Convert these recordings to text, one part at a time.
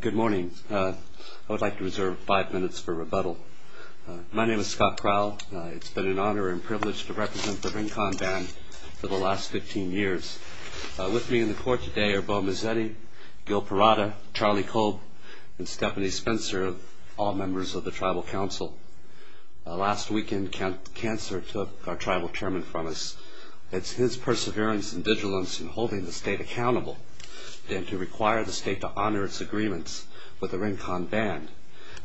Good morning. I would like to reserve five minutes for rebuttal. My name is Scott Crowell. It's been an honor and privilege to represent the Rincon Band for the last 15 years. With me in the court today are Bo Mazzetti, Gil Perrada, Charlie Kolb, and Stephanie Spencer, all members of the Tribal Council. Last weekend, the Chancellor took our Tribal Chairman from us. It's his perseverance and vigilance in holding the State accountable that required the State to honor its agreements with the Rincon Band,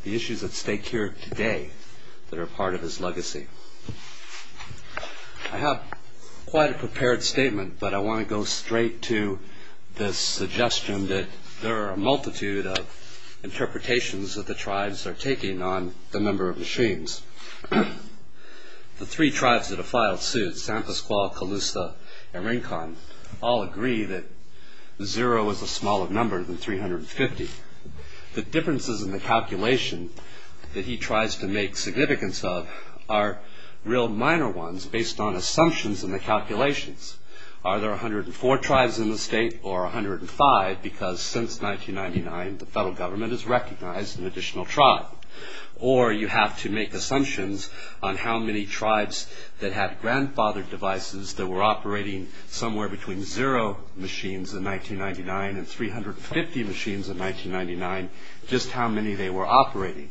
the issues at stake here today that are part of his legacy. I have quite a prepared statement, but I want to go straight to this suggestion that there are a multitude of interpretations that the Tribes are taking on the number of machines. The three Tribes that have filed suits, San Pasqual, Calusa, and Rincon, all agree that zero is a smaller number than 350. The differences in the calculation that he tries to make significance of are real minor ones based on assumptions in the calculations. Are there 104 Tribes in the State or 105? Because since 1999, the federal government has recognized an additional Tribe. Or you have to make assumptions on how many Tribes that have grandfathered devices that were operating somewhere between zero machines in 1999 and 350 machines in 1999, just how many they were operating.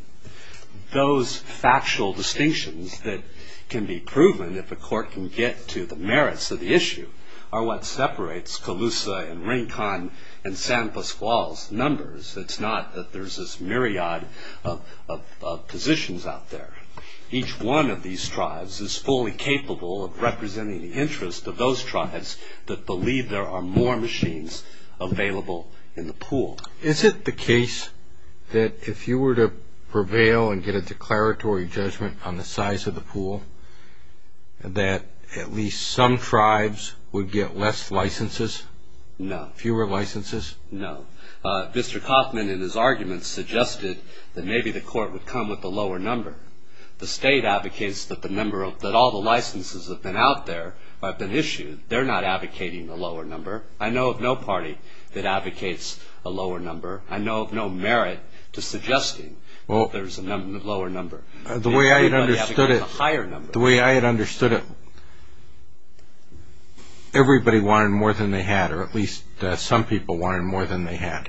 Those factual distinctions that can be proven if a court can get to the merits of the issue are what separates Calusa and Rincon and San Pasqual's numbers. It's not that there's this myriad of positions out there. Each one of these Tribes is fully capable of representing the interest of those Tribes that believe there are more machines available in the pool. Is it the case that if you were to prevail and get a declaratory judgment on the size of the pool, that at least some Tribes would get less licenses? No. Fewer licenses? No. Mr. Kaufman, in his arguments, suggested that maybe the court would come with a lower number. The State advocates that all the licenses that have been out there have been issued. They're not advocating a lower number. I know of no party that advocates a lower number. I know of no merit to suggesting that there's a lower number. The way I had understood it, everybody wanted more than they had, or at least some people wanted more than they had.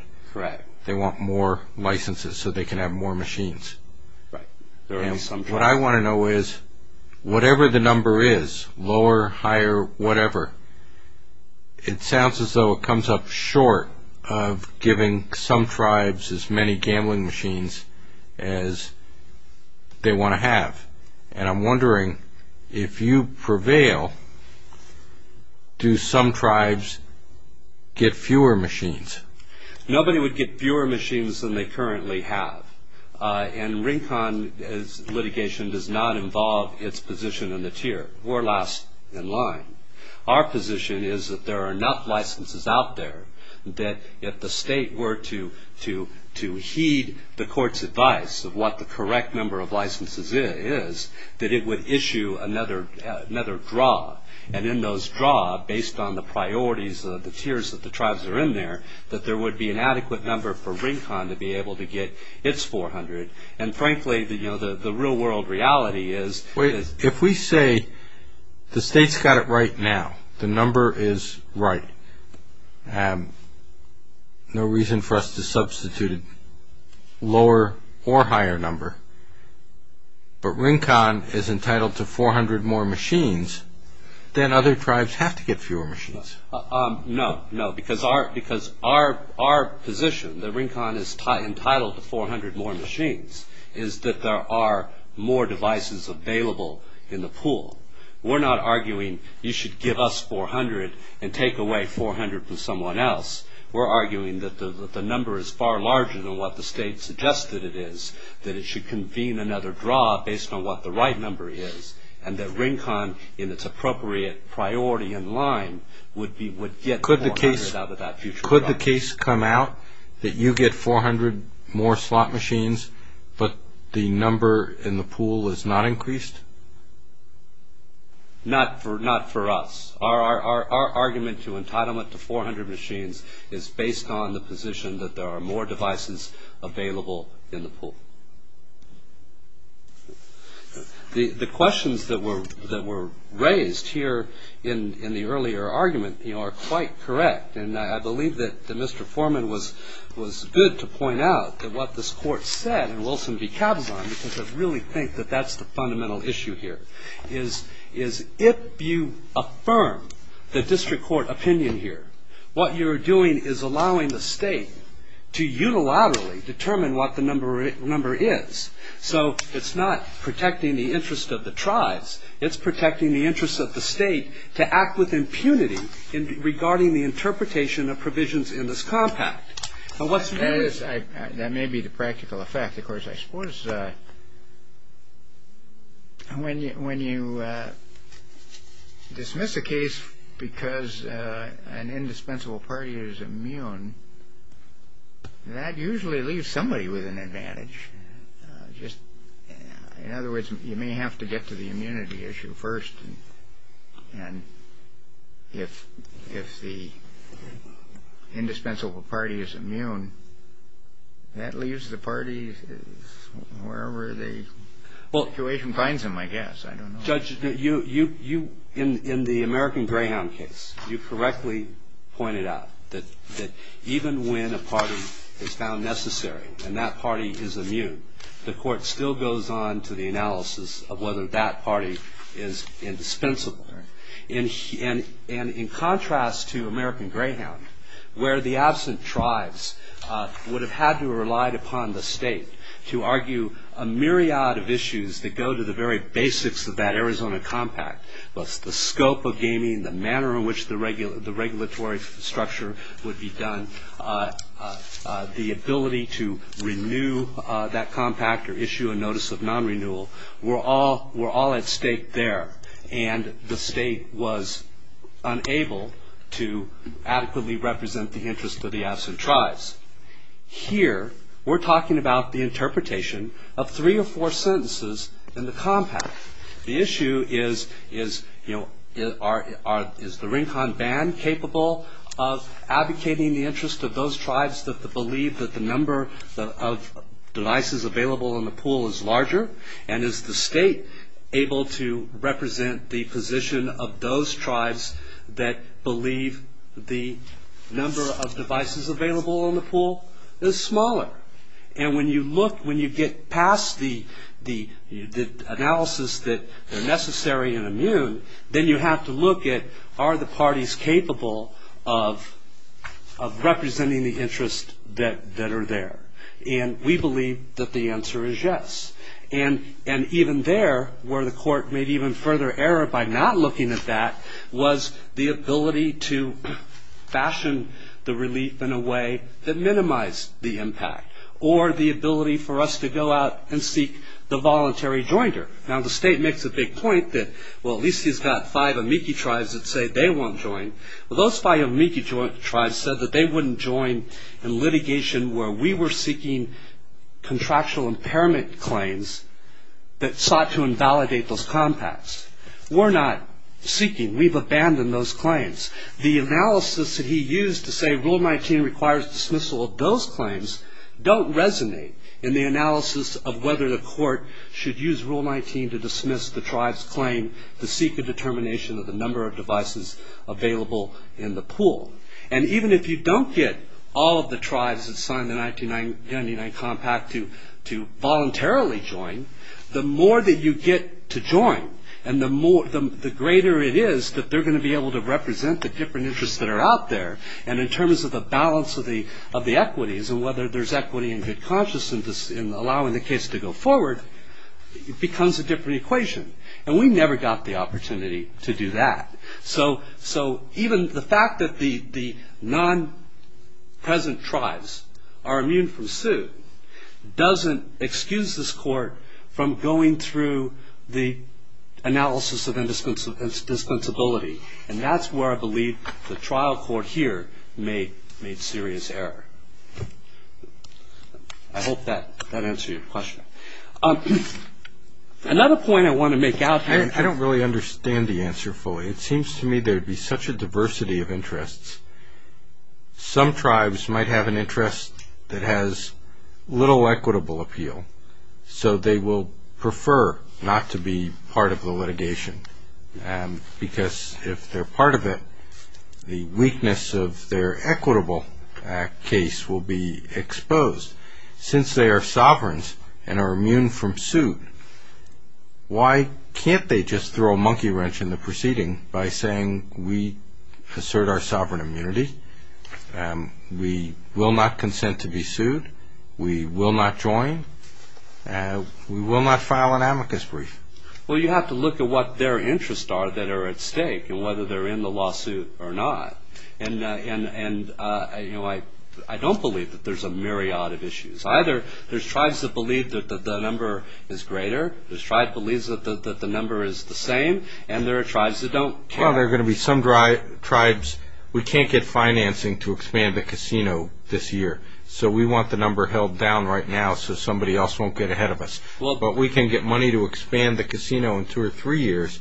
They want more licenses so they can have more machines. What I want to know is, whatever the number is, lower, higher, whatever, it sounds as though it comes up short of giving some Tribes as many gambling machines as they want to have. And I'm wondering, if you prevail, do some Tribes get fewer machines? Nobody would get fewer machines than they currently have. And RINCON's litigation does not involve its position in the tier or last in line. Our position is that there are enough licenses out there that if the State were to heed the court's advice of what the correct number of licenses is, that it would issue another draw. And in those draw, based on the priorities of the tiers that the Tribes are in there, that there would be an adequate number for RINCON to be able to get its 400. And frankly, the real-world reality is- If we say the State's got it right now, the number is right, no reason for us to substitute a lower or higher number, but RINCON is entitled to 400 more machines, then other Tribes have to get fewer machines. No, no, because our position, that RINCON is entitled to 400 more machines, is that there are more devices available in the pool. We're not arguing you should give us 400 and take away 400 from someone else. We're arguing that the number is far larger than what the State suggested it is, that it should convene another draw based on what the right number is, and that RINCON, in its appropriate priority and line, would get 400 out of that future draw. Could the case come out that you get 400 more slot machines, but the number in the pool is not increased? Not for us. Our argument to entitlement to 400 machines is based on the position that there are more devices available in the pool. The questions that were raised here in the earlier argument are quite correct, and I believe that Mr. Foreman was good to point out that what this Court said, and Wilson decaps on, because I really think that that's the fundamental issue here, is if you affirm the District Court opinion here, what you're doing is allowing the State to unilaterally determine what the number is. So it's not protecting the interest of the Tribes. It's protecting the interest of the State to act with impunity regarding the interpretation of provisions in this compact. That may be the practical effect. Of course, I suppose when you dismiss a case because an indispensable party is immune, that usually leaves somebody with an advantage. In other words, you may have to get to the immunity issue first, and if the indispensable party is immune, that leaves the party wherever the situation finds them, I guess. Judge, in the American Greyhound case, you correctly pointed out that even when a party is found necessary and that party is immune, the Court still goes on to the analysis of whether that party is indispensable. In contrast to American Greyhound, where the absent Tribes would have had to have relied upon the State to argue a myriad of issues that go to the very basics of that Arizona compact, both the scope of gaming, the manner in which the regulatory structure would be done, the ability to renew that compact or issue a notice of non-renewal were all at stake there, and the State was unable to adequately represent the interest of the absent Tribes. Here, we're talking about the interpretation of three or four sentences in the compact. The issue is, is the Rincon Band capable of advocating the interest of those Tribes that believe that the number of devices available in the pool is larger, and is the State able to represent the position of those Tribes that believe the number of devices available in the pool is smaller? And when you look, when you get past the analysis that they're necessary and immune, then you have to look at, are the parties capable of representing the interest that are there? And we believe that the answer is yes. And even there, where the Court made even further error by not looking at that, was the ability to fashion the relief in a way that minimized the impact, or the ability for us to go out and seek the voluntary jointer. Now, the State makes a big point that, well, at least he's got five amici Tribes that say they won't join. Well, those five amici Tribes said that they wouldn't join in litigation where we were seeking contractual impairment claims that sought to invalidate those compacts. We're not seeking. We've abandoned those claims. The analysis that he used to say Rule 19 requires dismissal of those claims don't resonate in the analysis of whether the Court should use Rule 19 to dismiss the Tribes' claim to seek a determination of the number of devices available in the pool. And even if you don't get all of the Tribes that signed the 1999 compact to voluntarily join, the more that you get to join and the greater it is that they're going to be able to represent the different interests that are out there, and in terms of the balance of the equities and whether there's equity and good conscience in allowing the case to go forward, it becomes a different equation. And we never got the opportunity to do that. So even the fact that the non-present Tribes are immune from suit doesn't excuse this Court from going through the analysis of indispensability, and that's where I believe the trial Court here made serious error. I hope that answered your question. Another point I want to make out here... It seems to me there'd be such a diversity of interests. Some Tribes might have an interest that has little equitable appeal, so they will prefer not to be part of the litigation, because if they're part of it, the weakness of their equitable case will be exposed. Since they are sovereigns and are immune from suit, why can't they just throw a monkey wrench in the proceeding by saying, We assert our sovereign immunity. We will not consent to be sued. We will not join. We will not file an amicus brief. Well, you have to look at what their interests are that are at stake and whether they're in the lawsuit or not. And I don't believe that there's a myriad of issues. Either there's Tribes that believe that the number is greater, there's Tribes that believe that the number is the same, and there are Tribes that don't care. Well, there are going to be some Tribes, we can't get financing to expand the casino this year, so we want the number held down right now so somebody else won't get ahead of us. But we can get money to expand the casino in two or three years,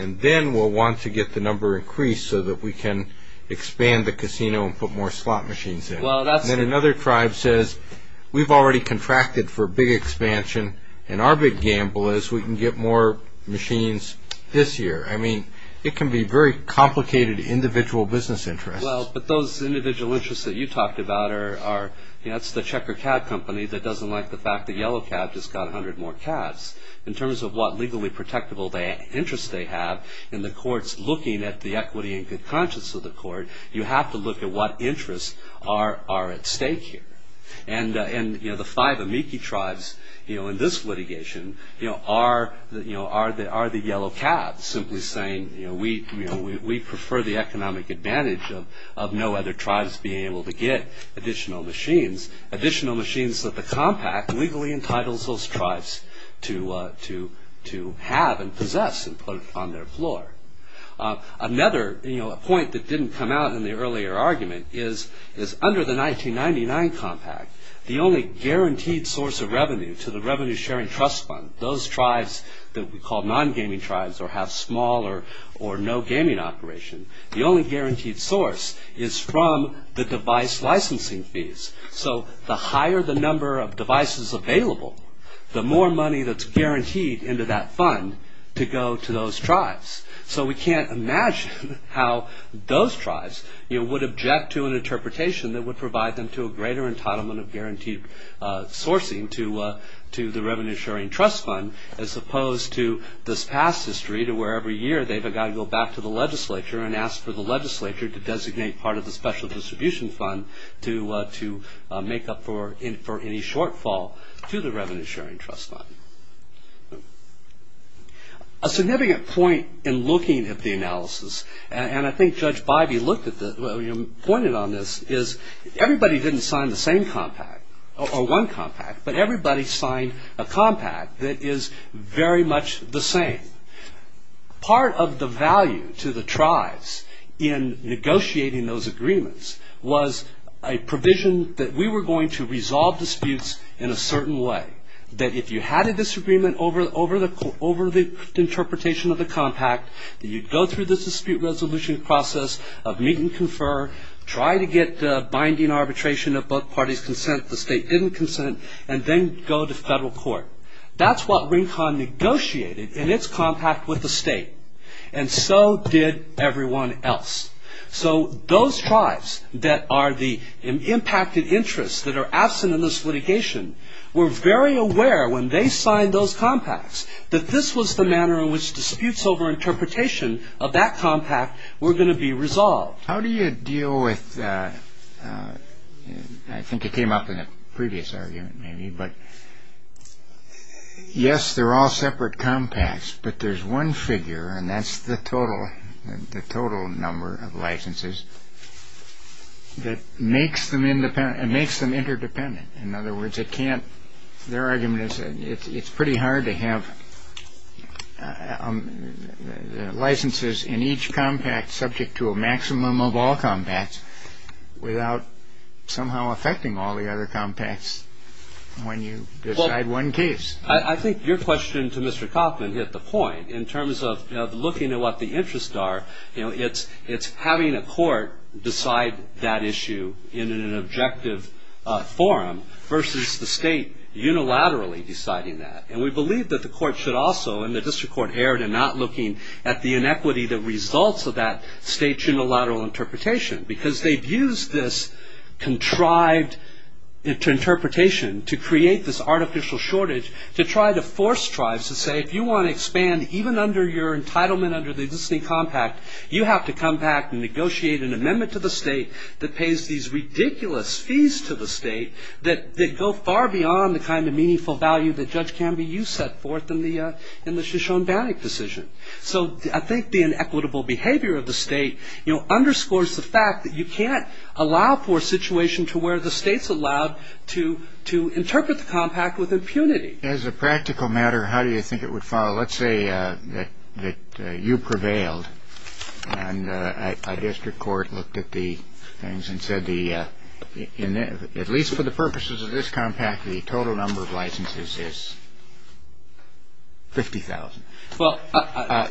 and then we'll want to get the number increased so that we can expand the casino and put more slot machines in. And then another Tribe says, We've already contracted for a big expansion, and our big gamble is we can get more machines this year. I mean, it can be very complicated individual business interests. Well, but those individual interests that you talked about are, you know, it's the Checker Cat Company that doesn't like the fact that Yellow Cat just got 100 more cats. In terms of what legally protectable interests they have, in the courts looking at the equity and good conscience of the court, you have to look at what interests are at stake here. And the five amici Tribes in this litigation are the Yellow Cat, simply saying, We prefer the economic advantage of no other Tribes being able to get additional machines, additional machines that the Compact legally entitles those Tribes to have and possess and put on their floor. Another point that didn't come out in the earlier argument is, under the 1999 Compact, the only guaranteed source of revenue to the Revenue Sharing Trust Fund, those Tribes that we call non-gaming Tribes or have small or no gaming operation, the only guaranteed source is from the device licensing fees. So the higher the number of devices available, the more money that's guaranteed into that fund to go to those Tribes. So we can't imagine how those Tribes would object to an interpretation that would provide them to a greater entitlement of guaranteed sourcing to the Revenue Sharing Trust Fund as opposed to this past history to where every year they've got to go back to the legislature and ask for the legislature to designate part of the Special Distribution Fund to make up for any shortfall to the Revenue Sharing Trust Fund. A significant point in looking at the analysis, and I think Judge Bybee pointed on this, is everybody didn't sign the same Compact or one Compact, but everybody signed a Compact that is very much the same. Part of the value to the Tribes in negotiating those agreements was a provision that we were going to resolve disputes in a certain way, that if you had a disagreement over the interpretation of the Compact, that you'd go through the dispute resolution process of meet and confer, try to get binding arbitration of both parties' consent if the State didn't consent, and then go to federal court. That's what RINCON negotiated in its Compact with the State, and so did everyone else. So those Tribes that are the impacted interests that are absent in this litigation were very aware when they signed those Compacts that this was the manner in which disputes over interpretation of that Compact were going to be resolved. How do you deal with, I think it came up in a previous argument maybe, but yes, they're all separate Compacts, but there's one figure, and that's the total number of licenses, that makes them interdependent. In other words, their argument is it's pretty hard to have licenses in each Compact subject to a maximum of all Compacts without somehow affecting all the other Compacts when you decide one case. I think your question to Mr. Kaufman hit the point. In terms of looking at what the interests are, it's having a court decide that issue in an objective forum versus the State unilaterally deciding that. We believe that the court should also, and the district court erred in not looking at the inequity that results of that State's unilateral interpretation because they've used this contrived interpretation to create this artificial shortage to try to force Tribes to say, if you want to expand even under your entitlement under the existing Compact, you have to come back and negotiate an amendment to the State that pays these ridiculous fees to the State that go far beyond the kind of meaningful value that Judge Canby used to set forth in the Shoshone-Bannock decision. So I think the inequitable behavior of the State underscores the fact that you can't allow for a situation to where the State's allowed to interpret the Compact with impunity. As a practical matter, how do you think it would fall? Let's say that you prevailed and a district court looked at the things and said, at least for the purposes of this Compact, the total number of licenses is 50,000.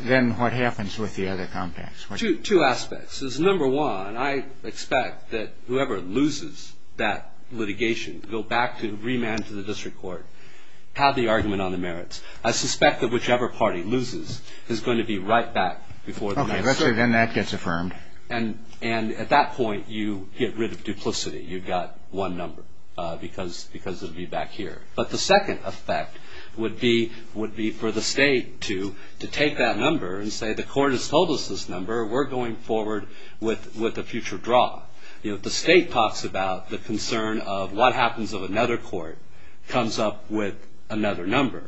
Then what happens with the other Compacts? Two aspects. Number one, I expect that whoever loses that litigation will go back to remand to the district court, have the argument on the merits. I suspect that whichever party loses is going to be right back before the next court. Okay, let's say then that gets affirmed. And at that point, you get rid of duplicity. You've got one number because it would be back here. But the second effect would be for the State to take that number and say the court has told us this number, we're going forward with a future draw. The State talks about the concern of what happens if another court comes up with another number.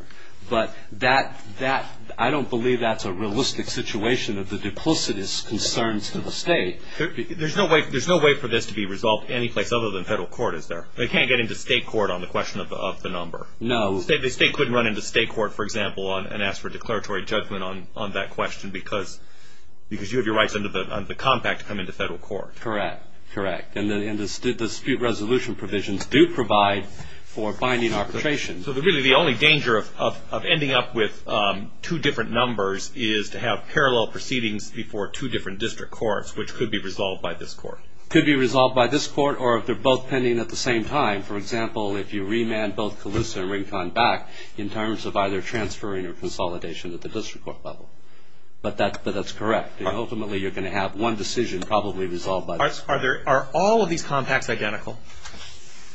But I don't believe that's a realistic situation of the duplicitous concerns to the State. There's no way for this to be resolved any place other than federal court, is there? They can't get into State court on the question of the number. No. The State couldn't run into State court, for example, and ask for declaratory judgment on that question because you have your rights under the Compact to come into federal court. Correct, correct. And the dispute resolution provisions do provide for binding arbitration. So really the only danger of ending up with two different numbers is to have parallel proceedings before two different district courts, which could be resolved by this court. Could be resolved by this court or if they're both pending at the same time. For example, if you remand both Calusa and Rincon back in terms of either transferring or consolidation at the district court level. But that's correct. Ultimately you're going to have one decision probably resolved by this court. Are all of these compacts identical?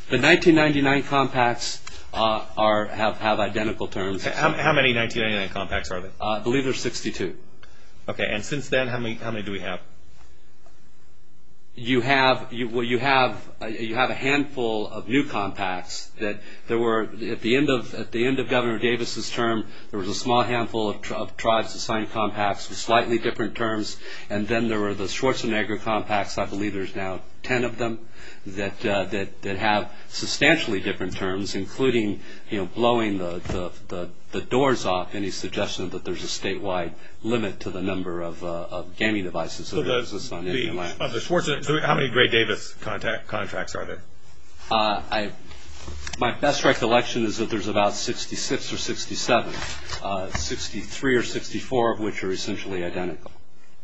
The 1999 compacts have identical terms. How many 1999 compacts are there? I believe there's 62. Okay. And since then, how many do we have? You have a handful of new compacts. At the end of Governor Davis' term, there was a small handful of tribes that signed compacts with slightly different terms. And then there were the Schwarzenegger compacts. I believe there's now ten of them that have substantially different terms, including blowing the doors off any suggestion that there's a statewide limit to the number of gaming devices that are used on Indian land. Of the Schwarzenegger, how many Gray-Davis contracts are there? My best recollection is that there's about 66 or 67, 63 or 64 of which are essentially identical.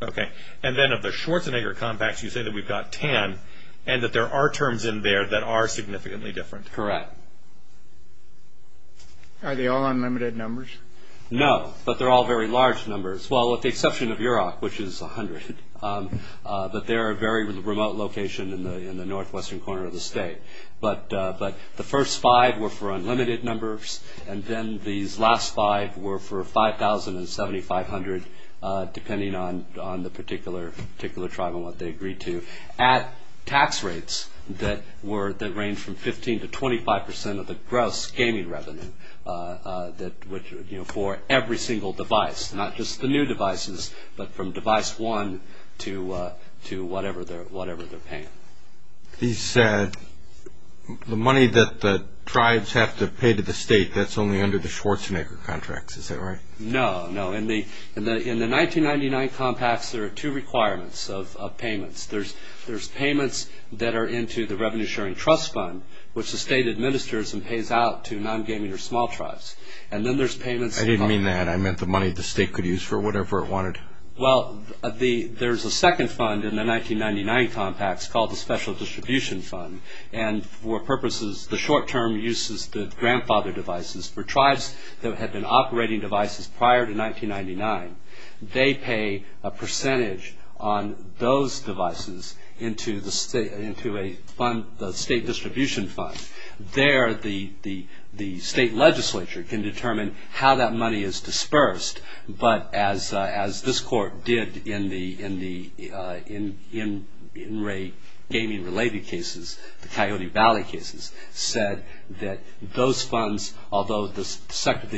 Okay. And then of the Schwarzenegger compacts, you say that we've got ten and that there are terms in there that are significantly different. Correct. Are they all unlimited numbers? No, but they're all very large numbers. Well, with the exception of Yurok, which is 100, but they're a very remote location in the northwestern corner of the state. But the first five were for unlimited numbers, and then these last five were for 5,000 and 7,500, depending on the particular tribe and what they agreed to, at tax rates that range from 15 to 25 percent of the gross gaming revenue for every single device, not just the new devices, but from device one to whatever they're paying. The money that the tribes have to pay to the state, that's only under the Schwarzenegger contracts. Is that right? No, no. In the 1999 compacts, there are two requirements of payments. There's payments that are into the Revenue Sharing Trust Fund, which the state administers and pays out to non-gaming or small tribes. And then there's payments. I didn't mean that. I meant the money the state could use for whatever it wanted. Well, there's a second fund in the 1999 compacts called the Special Distribution Fund. And for purposes, the short-term uses, the grandfather devices, for tribes that had been operating devices prior to 1999, they pay a percentage on those devices into the state distribution fund. There, the state legislature can determine how that money is dispersed. But as this court did in the in-rate gaming-related cases, the Coyote Valley cases, said that those funds, although the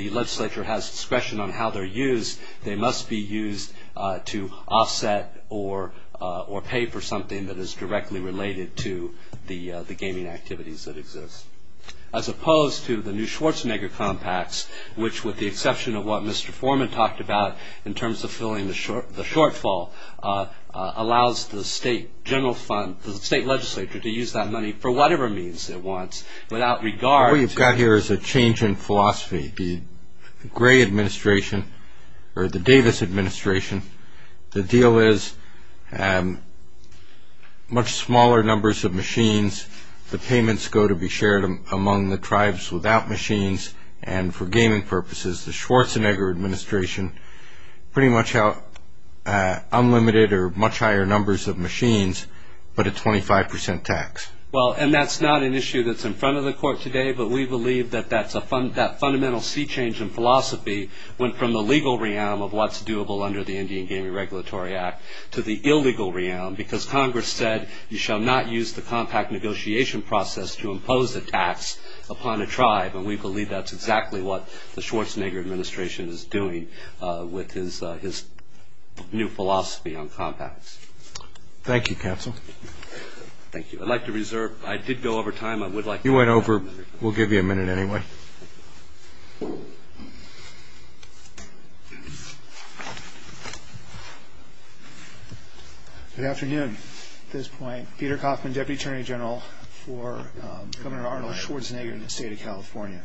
legislature has discretion on how they're used, they must be used to offset or pay for something that is directly related to the gaming activities that exist. As opposed to the new Schwarzenegger compacts, which with the exception of what Mr. Foreman talked about in terms of filling the shortfall, allows the state legislature to use that money for whatever means it wants without regard to- What we've got here is a change in philosophy. The Gray administration, or the Davis administration, the deal is much smaller numbers of machines. The payments go to be shared among the tribes without machines. And for gaming purposes, the Schwarzenegger administration, pretty much unlimited or much higher numbers of machines, but a 25% tax. Well, and that's not an issue that's in front of the court today, but we believe that that fundamental sea change in philosophy went from the legal realm of what's doable under the Indian Gaming Regulatory Act to the illegal realm, because Congress said you shall not use the compact negotiation process to impose a tax upon a tribe. And we believe that's exactly what the Schwarzenegger administration is doing with his new philosophy on compacts. Thank you, counsel. Thank you. I'd like to reserve- I did go over time. You went over- we'll give you a minute anyway. Good afternoon. At this point, Peter Coffman, Deputy Attorney General for Governor Arnold Schwarzenegger in the state of California.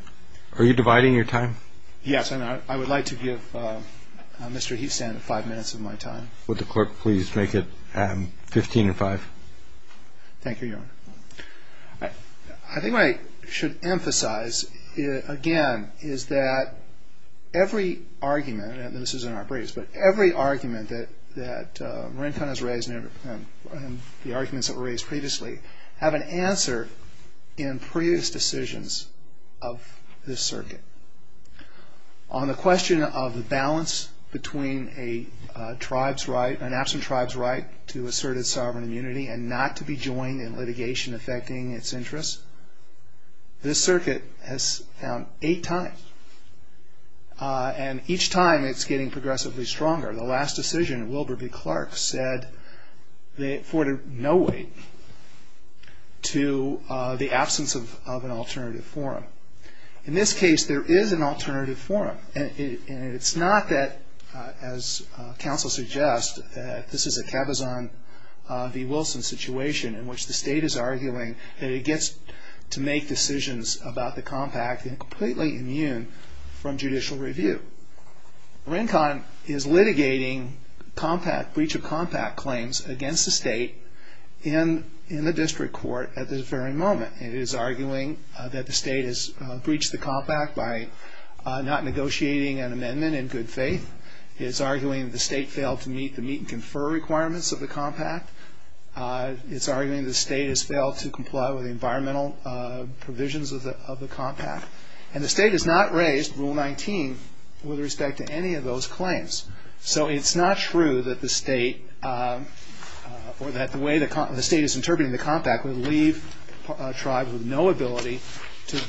Are you dividing your time? Yes, and I would like to give Mr. Heathstand five minutes of my time. Would the court please make it 15 and five? Thank you, Your Honor. I think what I should emphasize, again, is that every argument, and this is in our briefs, but every argument that Marincon has raised and the arguments that were raised previously, have an answer in previous decisions of this circuit. On the question of the balance between an absent tribe's right to asserted sovereign immunity and not to be joined in litigation affecting its interests, this circuit has found eight times, and each time it's getting progressively stronger. The last decision, Wilbur v. Clark, said they afforded no weight to the absence of an alternative forum. In this case, there is an alternative forum, and it's not that, as counsel suggests, this is a Cabazon v. Wilson situation in which the state is arguing that it gets to make decisions about the compact and completely immune from judicial review. Marincon is litigating breach of compact claims against the state in the district court at this very moment. It is arguing that the state has breached the compact by not negotiating an amendment in good faith. It is arguing the state failed to meet the meet and confer requirements of the compact. It's arguing the state has failed to comply with the environmental provisions of the compact. And the state has not raised Rule 19 with respect to any of those claims. So it's not true that the state or that the way the state is interpreting the compact would leave a tribe with no ability to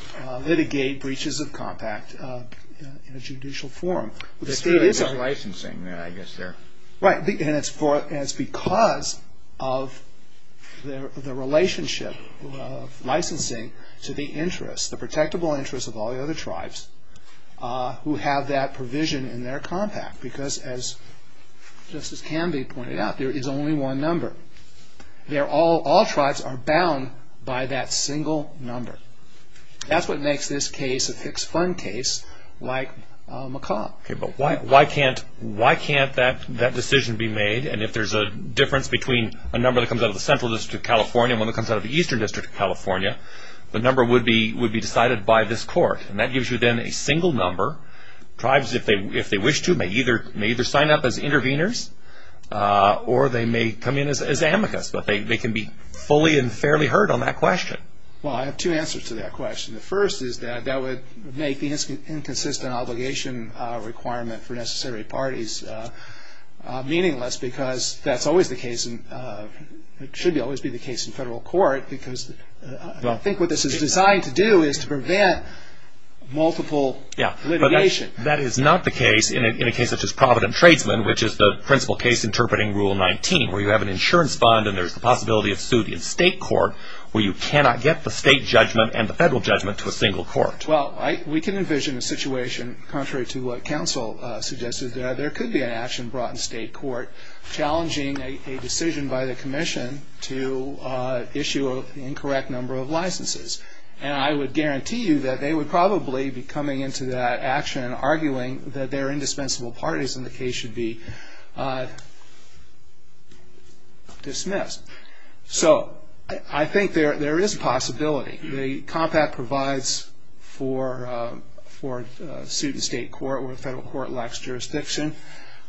litigate breaches of compact in a judicial forum. The state is a licensing, I guess, there. Right, and it's because of the relationship of licensing to the interests, the protectable interests of all the other tribes who have that provision in their compact. Because as Justice Canvey pointed out, there is only one number. All tribes are bound by that single number. That's what makes this case a fixed fund case like McComb. Okay, but why can't that decision be made? And if there's a difference between a number that comes out of the Central District of California and one that comes out of the Eastern District of California, the number would be decided by this court. And that gives you then a single number. Tribes, if they wish to, may either sign up as interveners or they may come in as amicus. But they can be fully and fairly heard on that question. Well, I have two answers to that question. The first is that that would make the inconsistent obligation requirement for necessary parties meaningless because that should always be the case in federal court. Because I think what this is designed to do is to prevent multiple litigation. Yeah, but that is not the case in a case such as Provident Tradesman, which is the principal case interpreting Rule 19, where you have an insurance fund and there's the possibility of suing in state court where you cannot get the state judgment and the federal judgment to a single court. Well, we can envision a situation contrary to what counsel suggested. There could be an action brought in state court challenging a decision by the commission to issue an incorrect number of licenses. And I would guarantee you that they would probably be coming into that action and arguing that their indispensable parties in the case should be dismissed. So I think there is a possibility. The compact provides for a suit in state court where federal court lacks jurisdiction.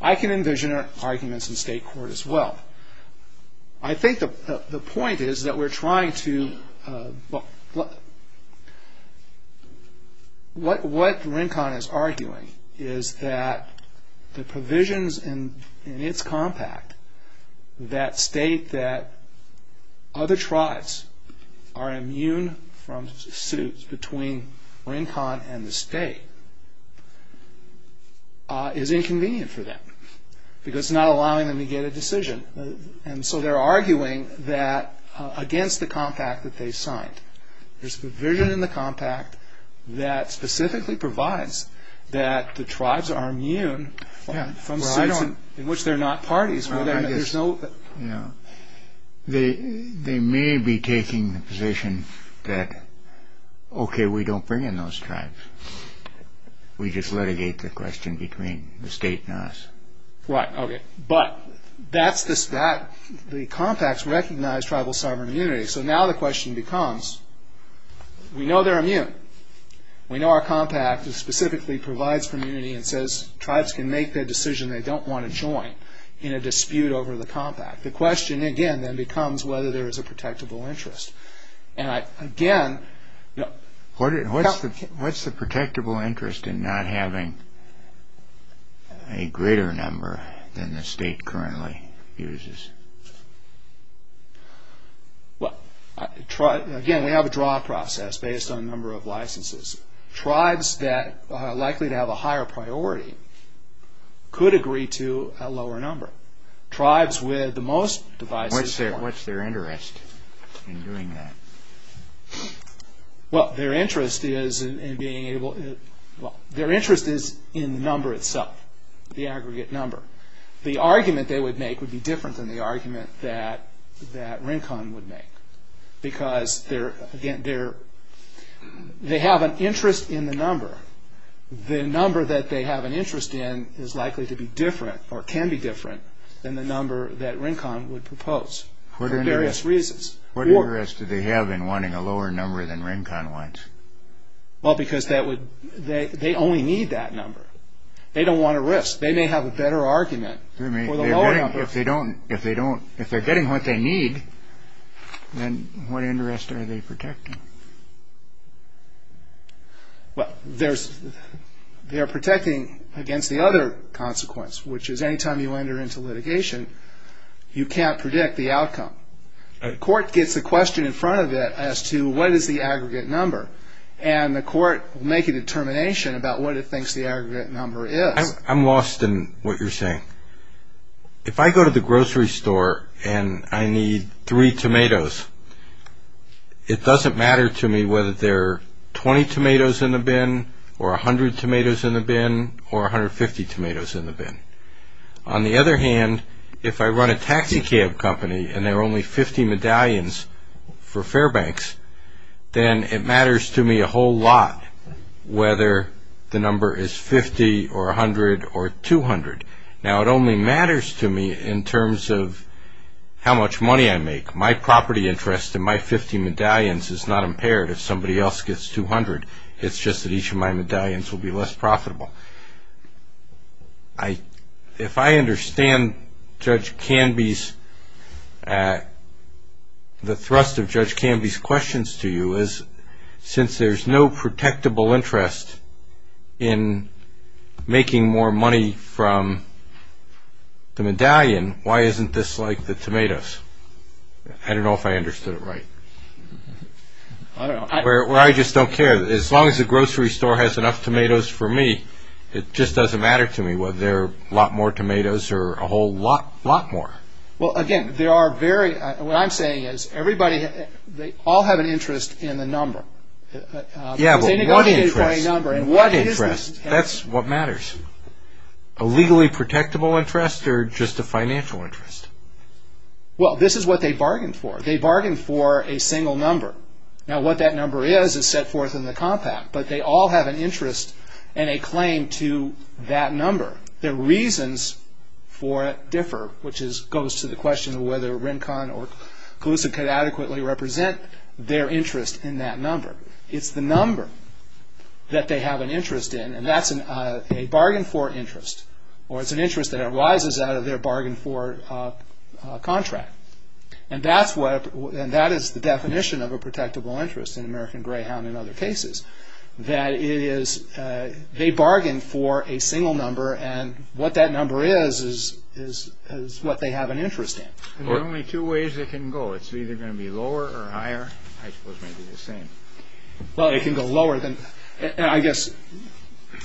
I can envision arguments in state court as well. I think the point is that we're trying to – what RENCON is arguing is that the provisions in its compact that state that other tribes are immune from suits between RENCON and the state is inconvenient for them because it's not allowing them to get a decision. And so they're arguing that against the compact that they signed. There's a provision in the compact that specifically provides that the tribes are immune from suits in which they're not parties. They may be taking the position that, okay, we don't bring in those tribes. We just litigate the question between the state and us. Right, okay. But the compacts recognize tribal sovereign immunity, so now the question becomes we know they're immune. We know our compact specifically provides for immunity and says tribes can make the decision they don't want to join in a dispute over the compact. The question, again, then becomes whether there is a protectable interest. And, again, what's the protectable interest in not having a greater number than the state currently uses? Again, we have a draw process based on number of licenses. Tribes that are likely to have a higher priority could agree to a lower number. Tribes with the most devices... What's their interest in doing that? Well, their interest is in being able... Well, their interest is in the number itself, the aggregate number. The argument they would make would be different than the argument that RENCON would make because they have an interest in the number. The number that they have an interest in is likely to be different or can be different than the number that RENCON would propose for various reasons. What interest do they have in wanting a lower number than RENCON wants? Well, because they only need that number. They don't want to risk. They may have a better argument for the lower number. If they're getting what they need, then what interest are they protecting? Well, they are protecting against the other consequence, which is any time you enter into litigation, you can't predict the outcome. The court gets a question in front of it as to what is the aggregate number, and the court will make a determination about what it thinks the aggregate number is. I'm lost in what you're saying. If I go to the grocery store and I need three tomatoes, it doesn't matter to me whether there are 20 tomatoes in the bin or 100 tomatoes in the bin or 150 tomatoes in the bin. On the other hand, if I run a taxicab company and there are only 50 medallions for Fairbanks, then it matters to me a whole lot whether the number is 50 or 100 or 200. Now, it only matters to me in terms of how much money I make. My property interest in my 50 medallions is not impaired if somebody else gets 200. It's just that each of my medallions will be less profitable. If I understand Judge Canby's, the thrust of Judge Canby's questions to you, since there's no protectable interest in making more money from the medallion, why isn't this like the tomatoes? I don't know if I understood it right. I just don't care. As long as the grocery store has enough tomatoes for me, it just doesn't matter to me whether there are a lot more tomatoes or a whole lot more. Well, again, what I'm saying is they all have an interest in the number. Yeah, but what interest? That's what matters. A legally protectable interest or just a financial interest? Well, this is what they bargain for. They bargain for a single number. Now, what that number is is set forth in the compact, but they all have an interest and a claim to that number. Their reasons for it differ, which goes to the question of whether Rincon or Colusa could adequately represent their interest in that number. It's the number that they have an interest in, and that's a bargain for interest, or it's an interest that arises out of their bargain for contract. And that is the definition of a protectable interest in American Greyhound and other cases. They bargain for a single number, and what that number is is what they have an interest in. There are only two ways it can go. It's either going to be lower or higher. I suppose it may be the same. Well, it can go lower. I guess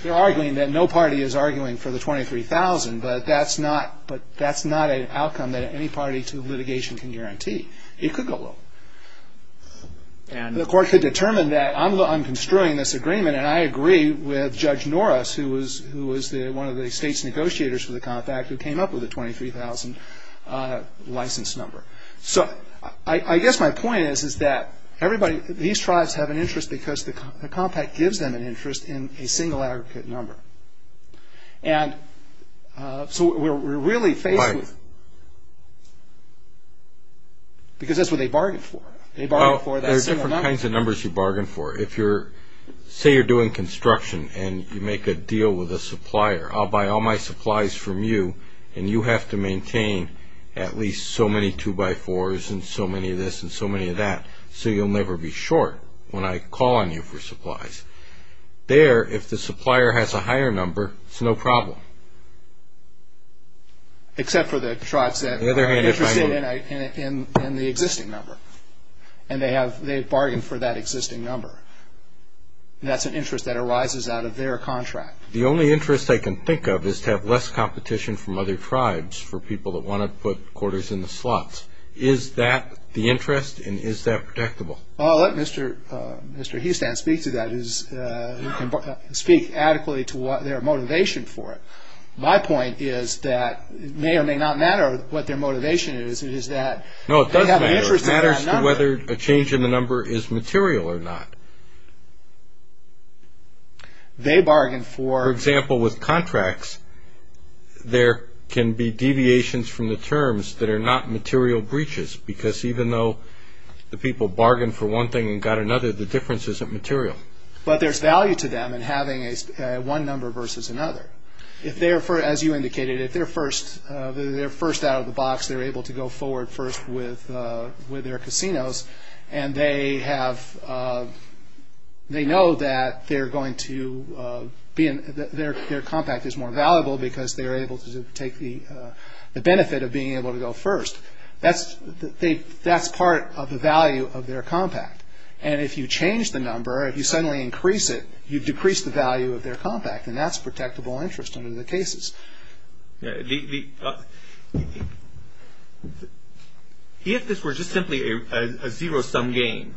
they're arguing that no party is arguing for the $23,000, but that's not an outcome that any party to litigation can guarantee. It could go lower. The court could determine that I'm construing this agreement, and I agree with Judge Norris, who was one of the state's negotiators for the compact, who came up with the $23,000 license number. So I guess my point is that these tribes have an interest because the compact gives them an interest in a single aggregate number. And so we're really faced with... Right. Because that's what they bargain for. There are different kinds of numbers you bargain for. Say you're doing construction and you make a deal with a supplier. I'll buy all my supplies from you, and you have to maintain at least so many 2x4s and so many of this and so many of that, so you'll never be short when I call on you for supplies. There, if the supplier has a higher number, it's no problem. Except for the tribes that are interested in the existing number, and they have bargained for that existing number. That's an interest that arises out of their contract. The only interest I can think of is to have less competition from other tribes for people that want to put quarters in the slots. Is that the interest, and is that protectable? I'll let Mr. Houston speak to that. You can speak adequately to their motivation for it. My point is that it may or may not matter what their motivation is. No, it does matter. It matters to whether a change in the number is material or not. They bargain for... For example, with contracts, there can be deviations from the terms that are not material breaches, because even though the people bargained for one thing and got another, the difference isn't material. But there's value to them in having one number versus another. As you indicated, if they're first out of the box, they're able to go forward first with their casinos, and they know that their compact is more valuable because they're able to take the benefit of being able to go first. That's part of the value of their compact. And if you change the number, if you suddenly increase it, you decrease the value of their compact, and that's protectable interest under the cases. If this were just simply a zero-sum game,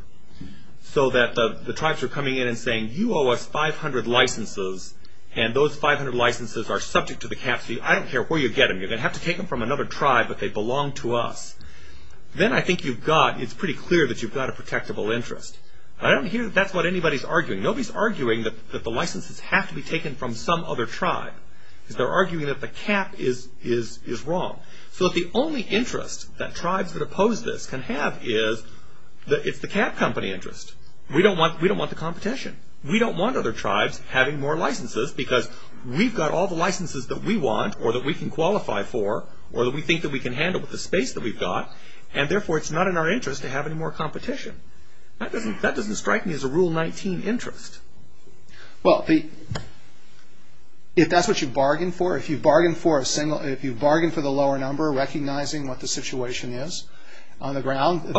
so that the tribes are coming in and saying, you owe us 500 licenses, and those 500 licenses are subject to the cap, I don't care where you get them. You're going to have to take them from another tribe, but they belong to us. Then I think you've got, it's pretty clear that you've got a protectable interest. I don't hear that that's what anybody's arguing. Nobody's arguing that the licenses have to be taken from some other tribe. They're arguing that the cap is wrong. So that the only interest that tribes that oppose this can have is, it's the cap company interest. We don't want the competition. We don't want other tribes having more licenses because we've got all the licenses that we want or that we can qualify for or that we think that we can handle with the space that we've got, and therefore it's not in our interest to have any more competition. That doesn't strike me as a Rule 19 interest. Well, if that's what you've bargained for, if you've bargained for the lower number recognizing what the situation is on the ground, you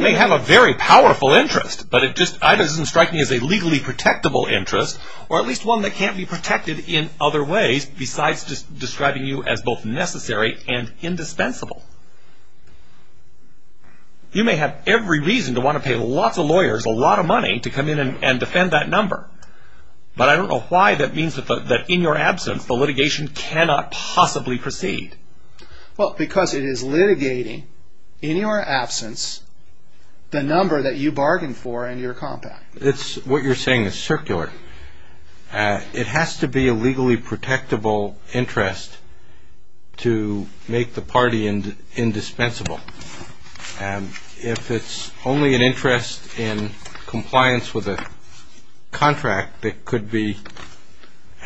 may have a very powerful interest, but it just either doesn't strike me as a legally protectable interest or at least one that can't be protected in other ways besides just describing you as both necessary and indispensable. You may have every reason to want to pay lots of lawyers a lot of money to come in and defend that number, but I don't know why that means that in your absence, the litigation cannot possibly proceed. Well, because it is litigating in your absence the number that you bargained for in your compact. What you're saying is circular. It has to be a legally protectable interest to make the party indispensable. If it's only an interest in compliance with a contract that could be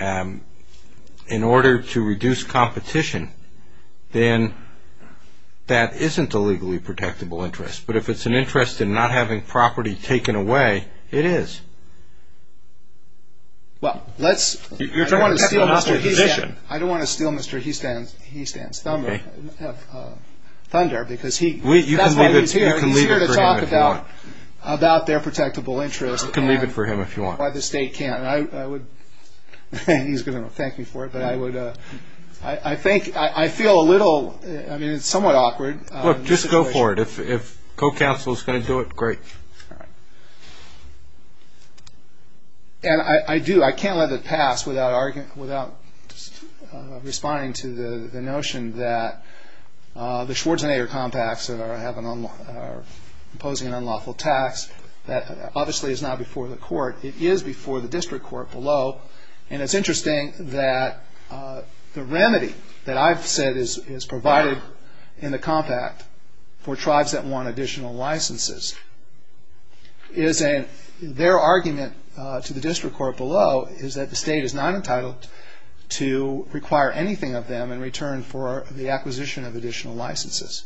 in order to reduce competition, then that isn't a legally protectable interest. But if it's an interest in not having property taken away, it is. Well, let's... You're trying to steal our position. I don't want to steal Mr. Houston's thunder because that's what he's here to talk about, about their protectable interest. You can leave it for him if you want. Why the state can't. He's going to thank me for it, but I would... I feel a little... I mean, it's somewhat awkward. Look, just go for it. If co-counsel is going to do it, great. All right. And I do. I can't let that pass without responding to the notion that the Schwarzenegger compacts are imposing an unlawful tax. That obviously is not before the court. It is before the district court below. And it's interesting that the remedy that I've said is provided in the compact for tribes that want additional licenses is that their argument to the district court below is that the state is not entitled to require anything of them in return for the acquisition of additional licenses.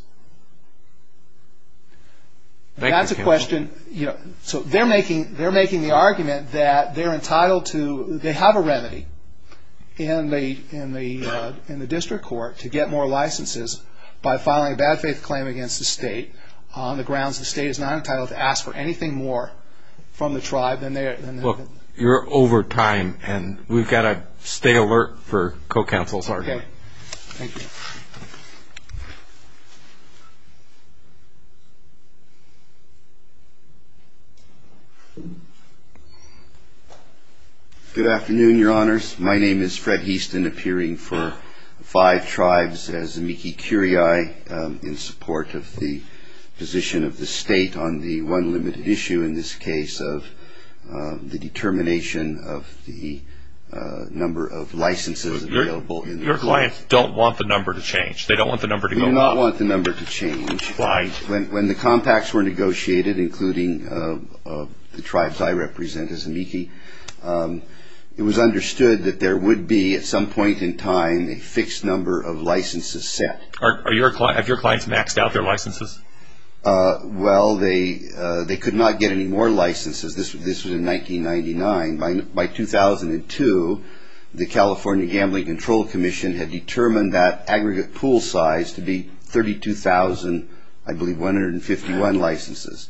Thank you, counsel. That's a question... So they're making the argument that they're entitled to... in the district court to get more licenses by filing a bad faith claim against the state on the grounds the state is not entitled to ask for anything more from the tribe than they... Look, you're over time, and we've got to stay alert for co-counsel's argument. Okay. Thank you. Thank you. Good afternoon, Your Honors. My name is Fred Heaston, appearing for five tribes as amici curiae in support of the position of the state on the one limited issue in this case of the determination of the number of licenses available... So your clients don't want the number to change? They don't want the number to go up? We do not want the number to change. Why? When the compacts were negotiated, including the tribes I represent as amici, it was understood that there would be, at some point in time, a fixed number of licenses set. Have your clients maxed out their licenses? Well, they could not get any more licenses. This was in 1999. By 2002, the California Gambling Control Commission had determined that aggregate pool size to be 32,000, I believe, 151 licenses.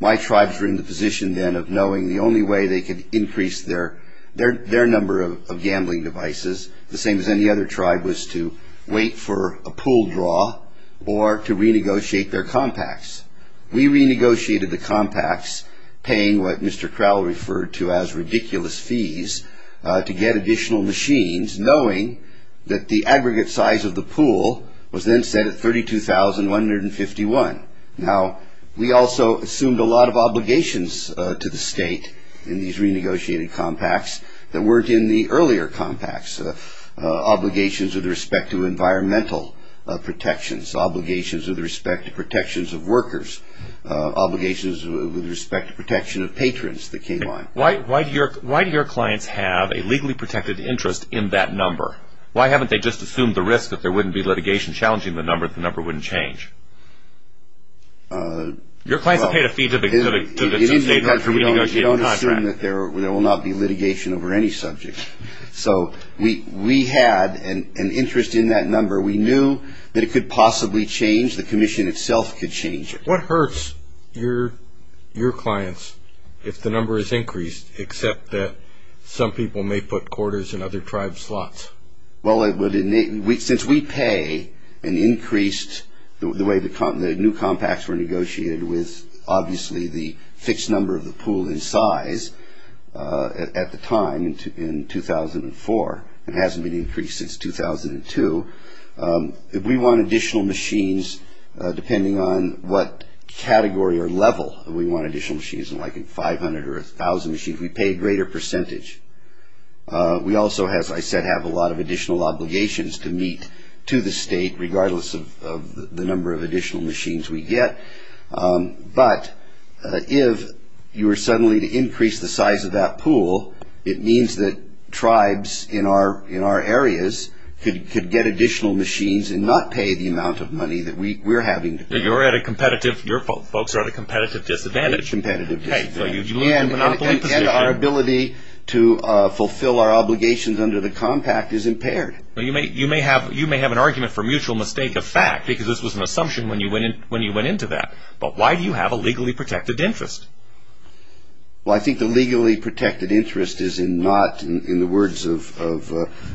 My tribes were in the position then of knowing the only way they could increase their number of gambling devices, the same as any other tribe, was to wait for a pool draw or to renegotiate their compacts. We renegotiated the compacts, paying what Mr. Crowell referred to as ridiculous fees to get additional machines, knowing that the aggregate size of the pool was then set at 32,151. Now, we also assumed a lot of obligations to the state in these renegotiated compacts that weren't in the earlier compacts, obligations with respect to environmental protections, obligations with respect to protections of workers, obligations with respect to protection of patrons that came on. Why do your clients have a legally protected interest in that number? Why haven't they just assumed the risk that there wouldn't be litigation challenging the number if the number wouldn't change? Your clients have paid a fee to the state to renegotiate the contract. We don't assume that there will not be litigation over any subject. So we had an interest in that number. We knew that it could possibly change. The commission itself could change it. What hurts your clients if the number is increased, except that some people may put quarters in other tribes' slots? Well, since we pay an increased, the way the new compacts were negotiated with, obviously the fixed number of the pool in size at the time in 2004, it hasn't been increased since 2002. If we want additional machines, depending on what category or level we want additional machines, like 500 or 1,000 machines, we pay a greater percentage. We also, as I said, have a lot of additional obligations to meet to the state, regardless of the number of additional machines we get. But if you were suddenly to increase the size of that pool, it means that tribes in our areas could get additional machines and not pay the amount of money that we're having to pay. Your folks are at a competitive disadvantage. And our ability to fulfill our obligations under the compact is impaired. You may have an argument for mutual mistake of fact, because this was an assumption when you went into that. But why do you have a legally protected interest? Well, I think the legally protected interest is in not, in the words of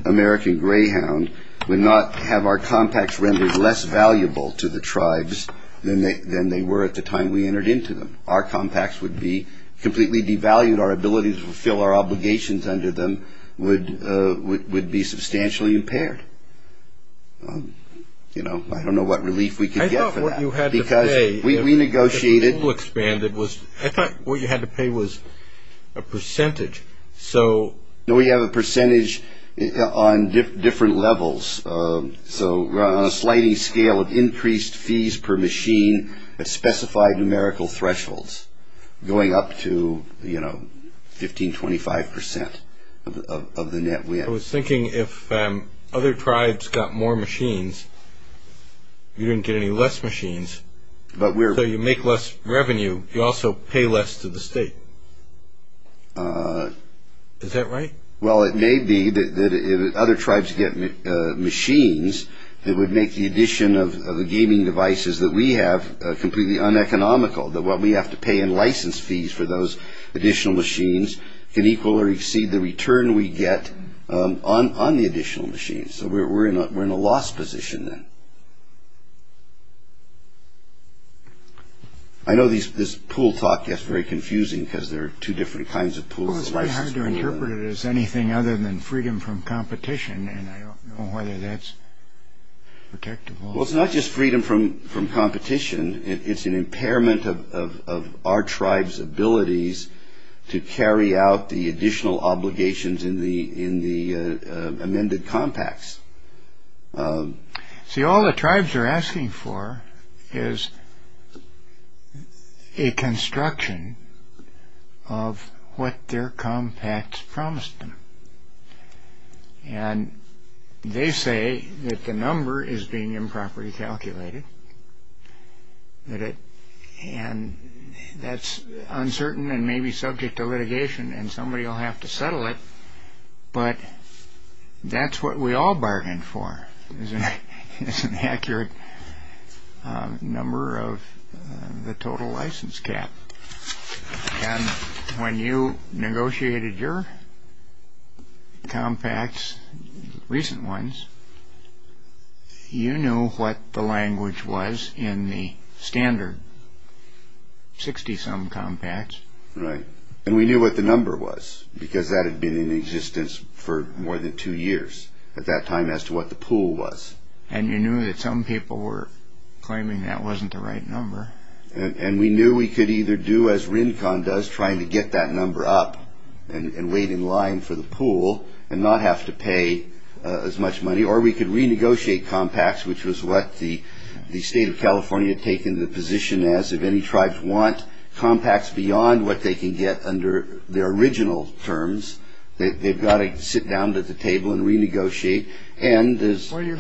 American Greyhound, would not have our compacts rendered less valuable to the tribes than they were at the time we entered into them. Our compacts would be completely devalued. Our ability to fulfill our obligations under them would be substantially impaired. You know, I don't know what relief we could get for that. The pool expanded. I thought what you had to pay was a percentage. No, we have a percentage on different levels. So on a sliding scale of increased fees per machine at specified numerical thresholds, going up to, you know, 15, 25 percent of the net win. I was thinking if other tribes got more machines, you didn't get any less machines. So you make less revenue. You also pay less to the state. Is that right? Well, it may be that if other tribes get machines, it would make the addition of the gaming devices that we have completely uneconomical, that what we have to pay in license fees for those additional machines can equal or exceed the return we get on the additional machines. So we're in a loss position then. I know this pool talk gets very confusing because there are two different kinds of pools. Well, it's very hard to interpret it as anything other than freedom from competition, and I don't know whether that's protectable. Well, it's not just freedom from competition. It's an impairment of our tribes' abilities to carry out the additional obligations in the amended compacts. See, all the tribes are asking for is a construction of what their compacts promised them. And they say that the number is being improperly calculated. And that's uncertain and maybe subject to litigation, and somebody will have to settle it. But that's what we all bargain for is an accurate number of the total license cap. And when you negotiated your compacts, recent ones, you knew what the language was in the standard 60-some compacts. Right. And we knew what the number was because that had been in existence for more than two years at that time as to what the pool was. And you knew that some people were claiming that wasn't the right number. And we knew we could either do as RINCON does, trying to get that number up and wait in line for the pool and not have to pay as much money, or we could renegotiate compacts, which was what the state of California had taken the position as if any tribes want compacts beyond what they can get under their original terms. They've got to sit down at the table and renegotiate. Well, you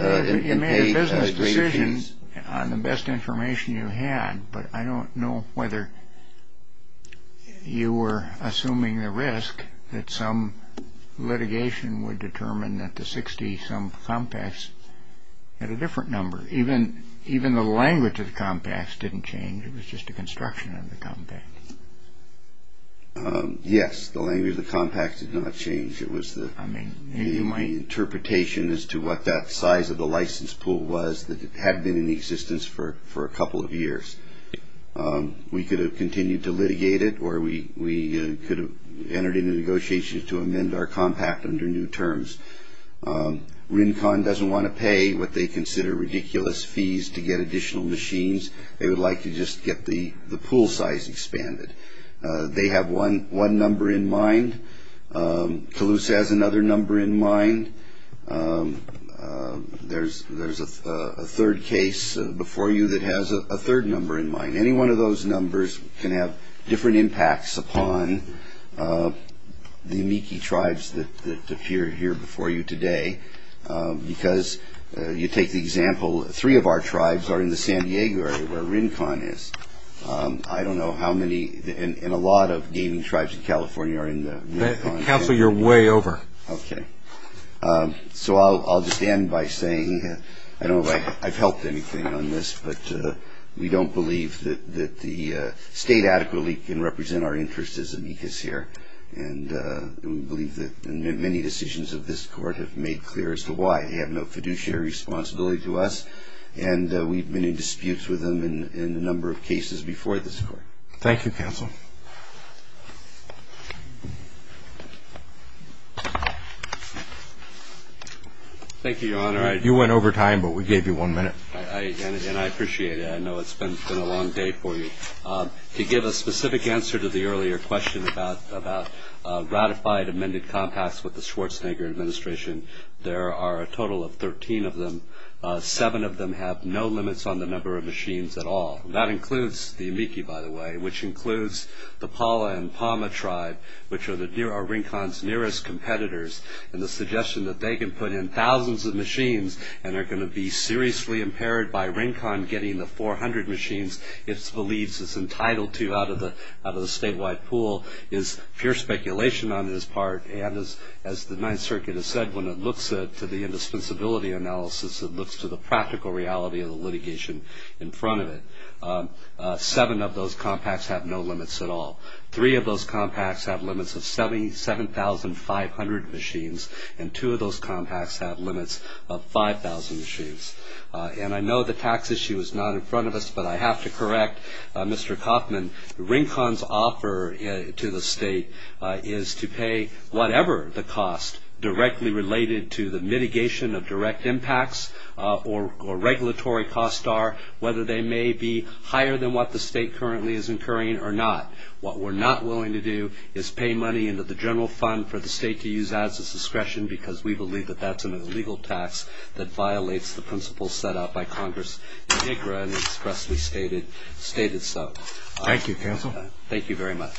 made a business decision on the best information you had, but I don't know whether you were assuming the risk that some litigation would determine that the 60-some compacts had a different number. Even the language of the compacts didn't change. It was just a construction of the compact. Yes, the language of the compact did not change. It was my interpretation as to what that size of the license pool was that had been in existence for a couple of years. We could have continued to litigate it, or we could have entered into negotiations to amend our compact under new terms. RINCON doesn't want to pay what they consider ridiculous fees to get additional machines. They would like to just get the pool size expanded. They have one number in mind. Toulouse has another number in mind. There's a third case before you that has a third number in mind. Any one of those numbers can have different impacts upon the amici tribes that appear here before you today. Because you take the example, three of our tribes are in the San Diego area where RINCON is. I don't know how many. And a lot of gaming tribes in California are in the RINCON area. Counsel, you're way over. Okay. So I'll just end by saying I don't know if I've helped anything on this, but we don't believe that the state adequately can represent our interests as amicus here. And we believe that many decisions of this court have made clear as to why. They have no fiduciary responsibility to us. And we've been in disputes with them in a number of cases before this court. Thank you, Counsel. Thank you, Your Honor. You went over time, but we gave you one minute. And I appreciate it. I know it's been a long day for you. To give a specific answer to the earlier question about ratified amended compacts with the Schwarzenegger administration, there are a total of 13 of them. Seven of them have no limits on the number of machines at all. That includes the amici, by the way, which includes the Paula and Palma tribe, which are RINCON's nearest competitors. And the suggestion that they can put in thousands of machines and are going to be seriously impaired by RINCON getting the 400 machines it believes it's entitled to out of the statewide pool is pure speculation on its part. And as the Ninth Circuit has said, when it looks to the indispensability analysis, it looks to the practical reality of the litigation in front of it. Seven of those compacts have no limits at all. Three of those compacts have limits of 77,500 machines, and two of those compacts have limits of 5,000 machines. And I know the tax issue is not in front of us, but I have to correct Mr. Kaufman. RINCON's offer to the state is to pay whatever the cost directly related to the mitigation of direct impacts or regulatory costs are, whether they may be higher than what the state currently is incurring or not. What we're not willing to do is pay money into the general fund for the state to use as its discretion because we believe that that's an illegal tax that violates the principles set out by Congress in IGRA and expressly stated so. Thank you, counsel. Thank you very much.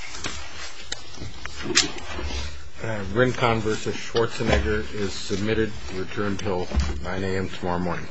RINCON v. Schwarzenegger is submitted to return until 9 a.m. tomorrow morning.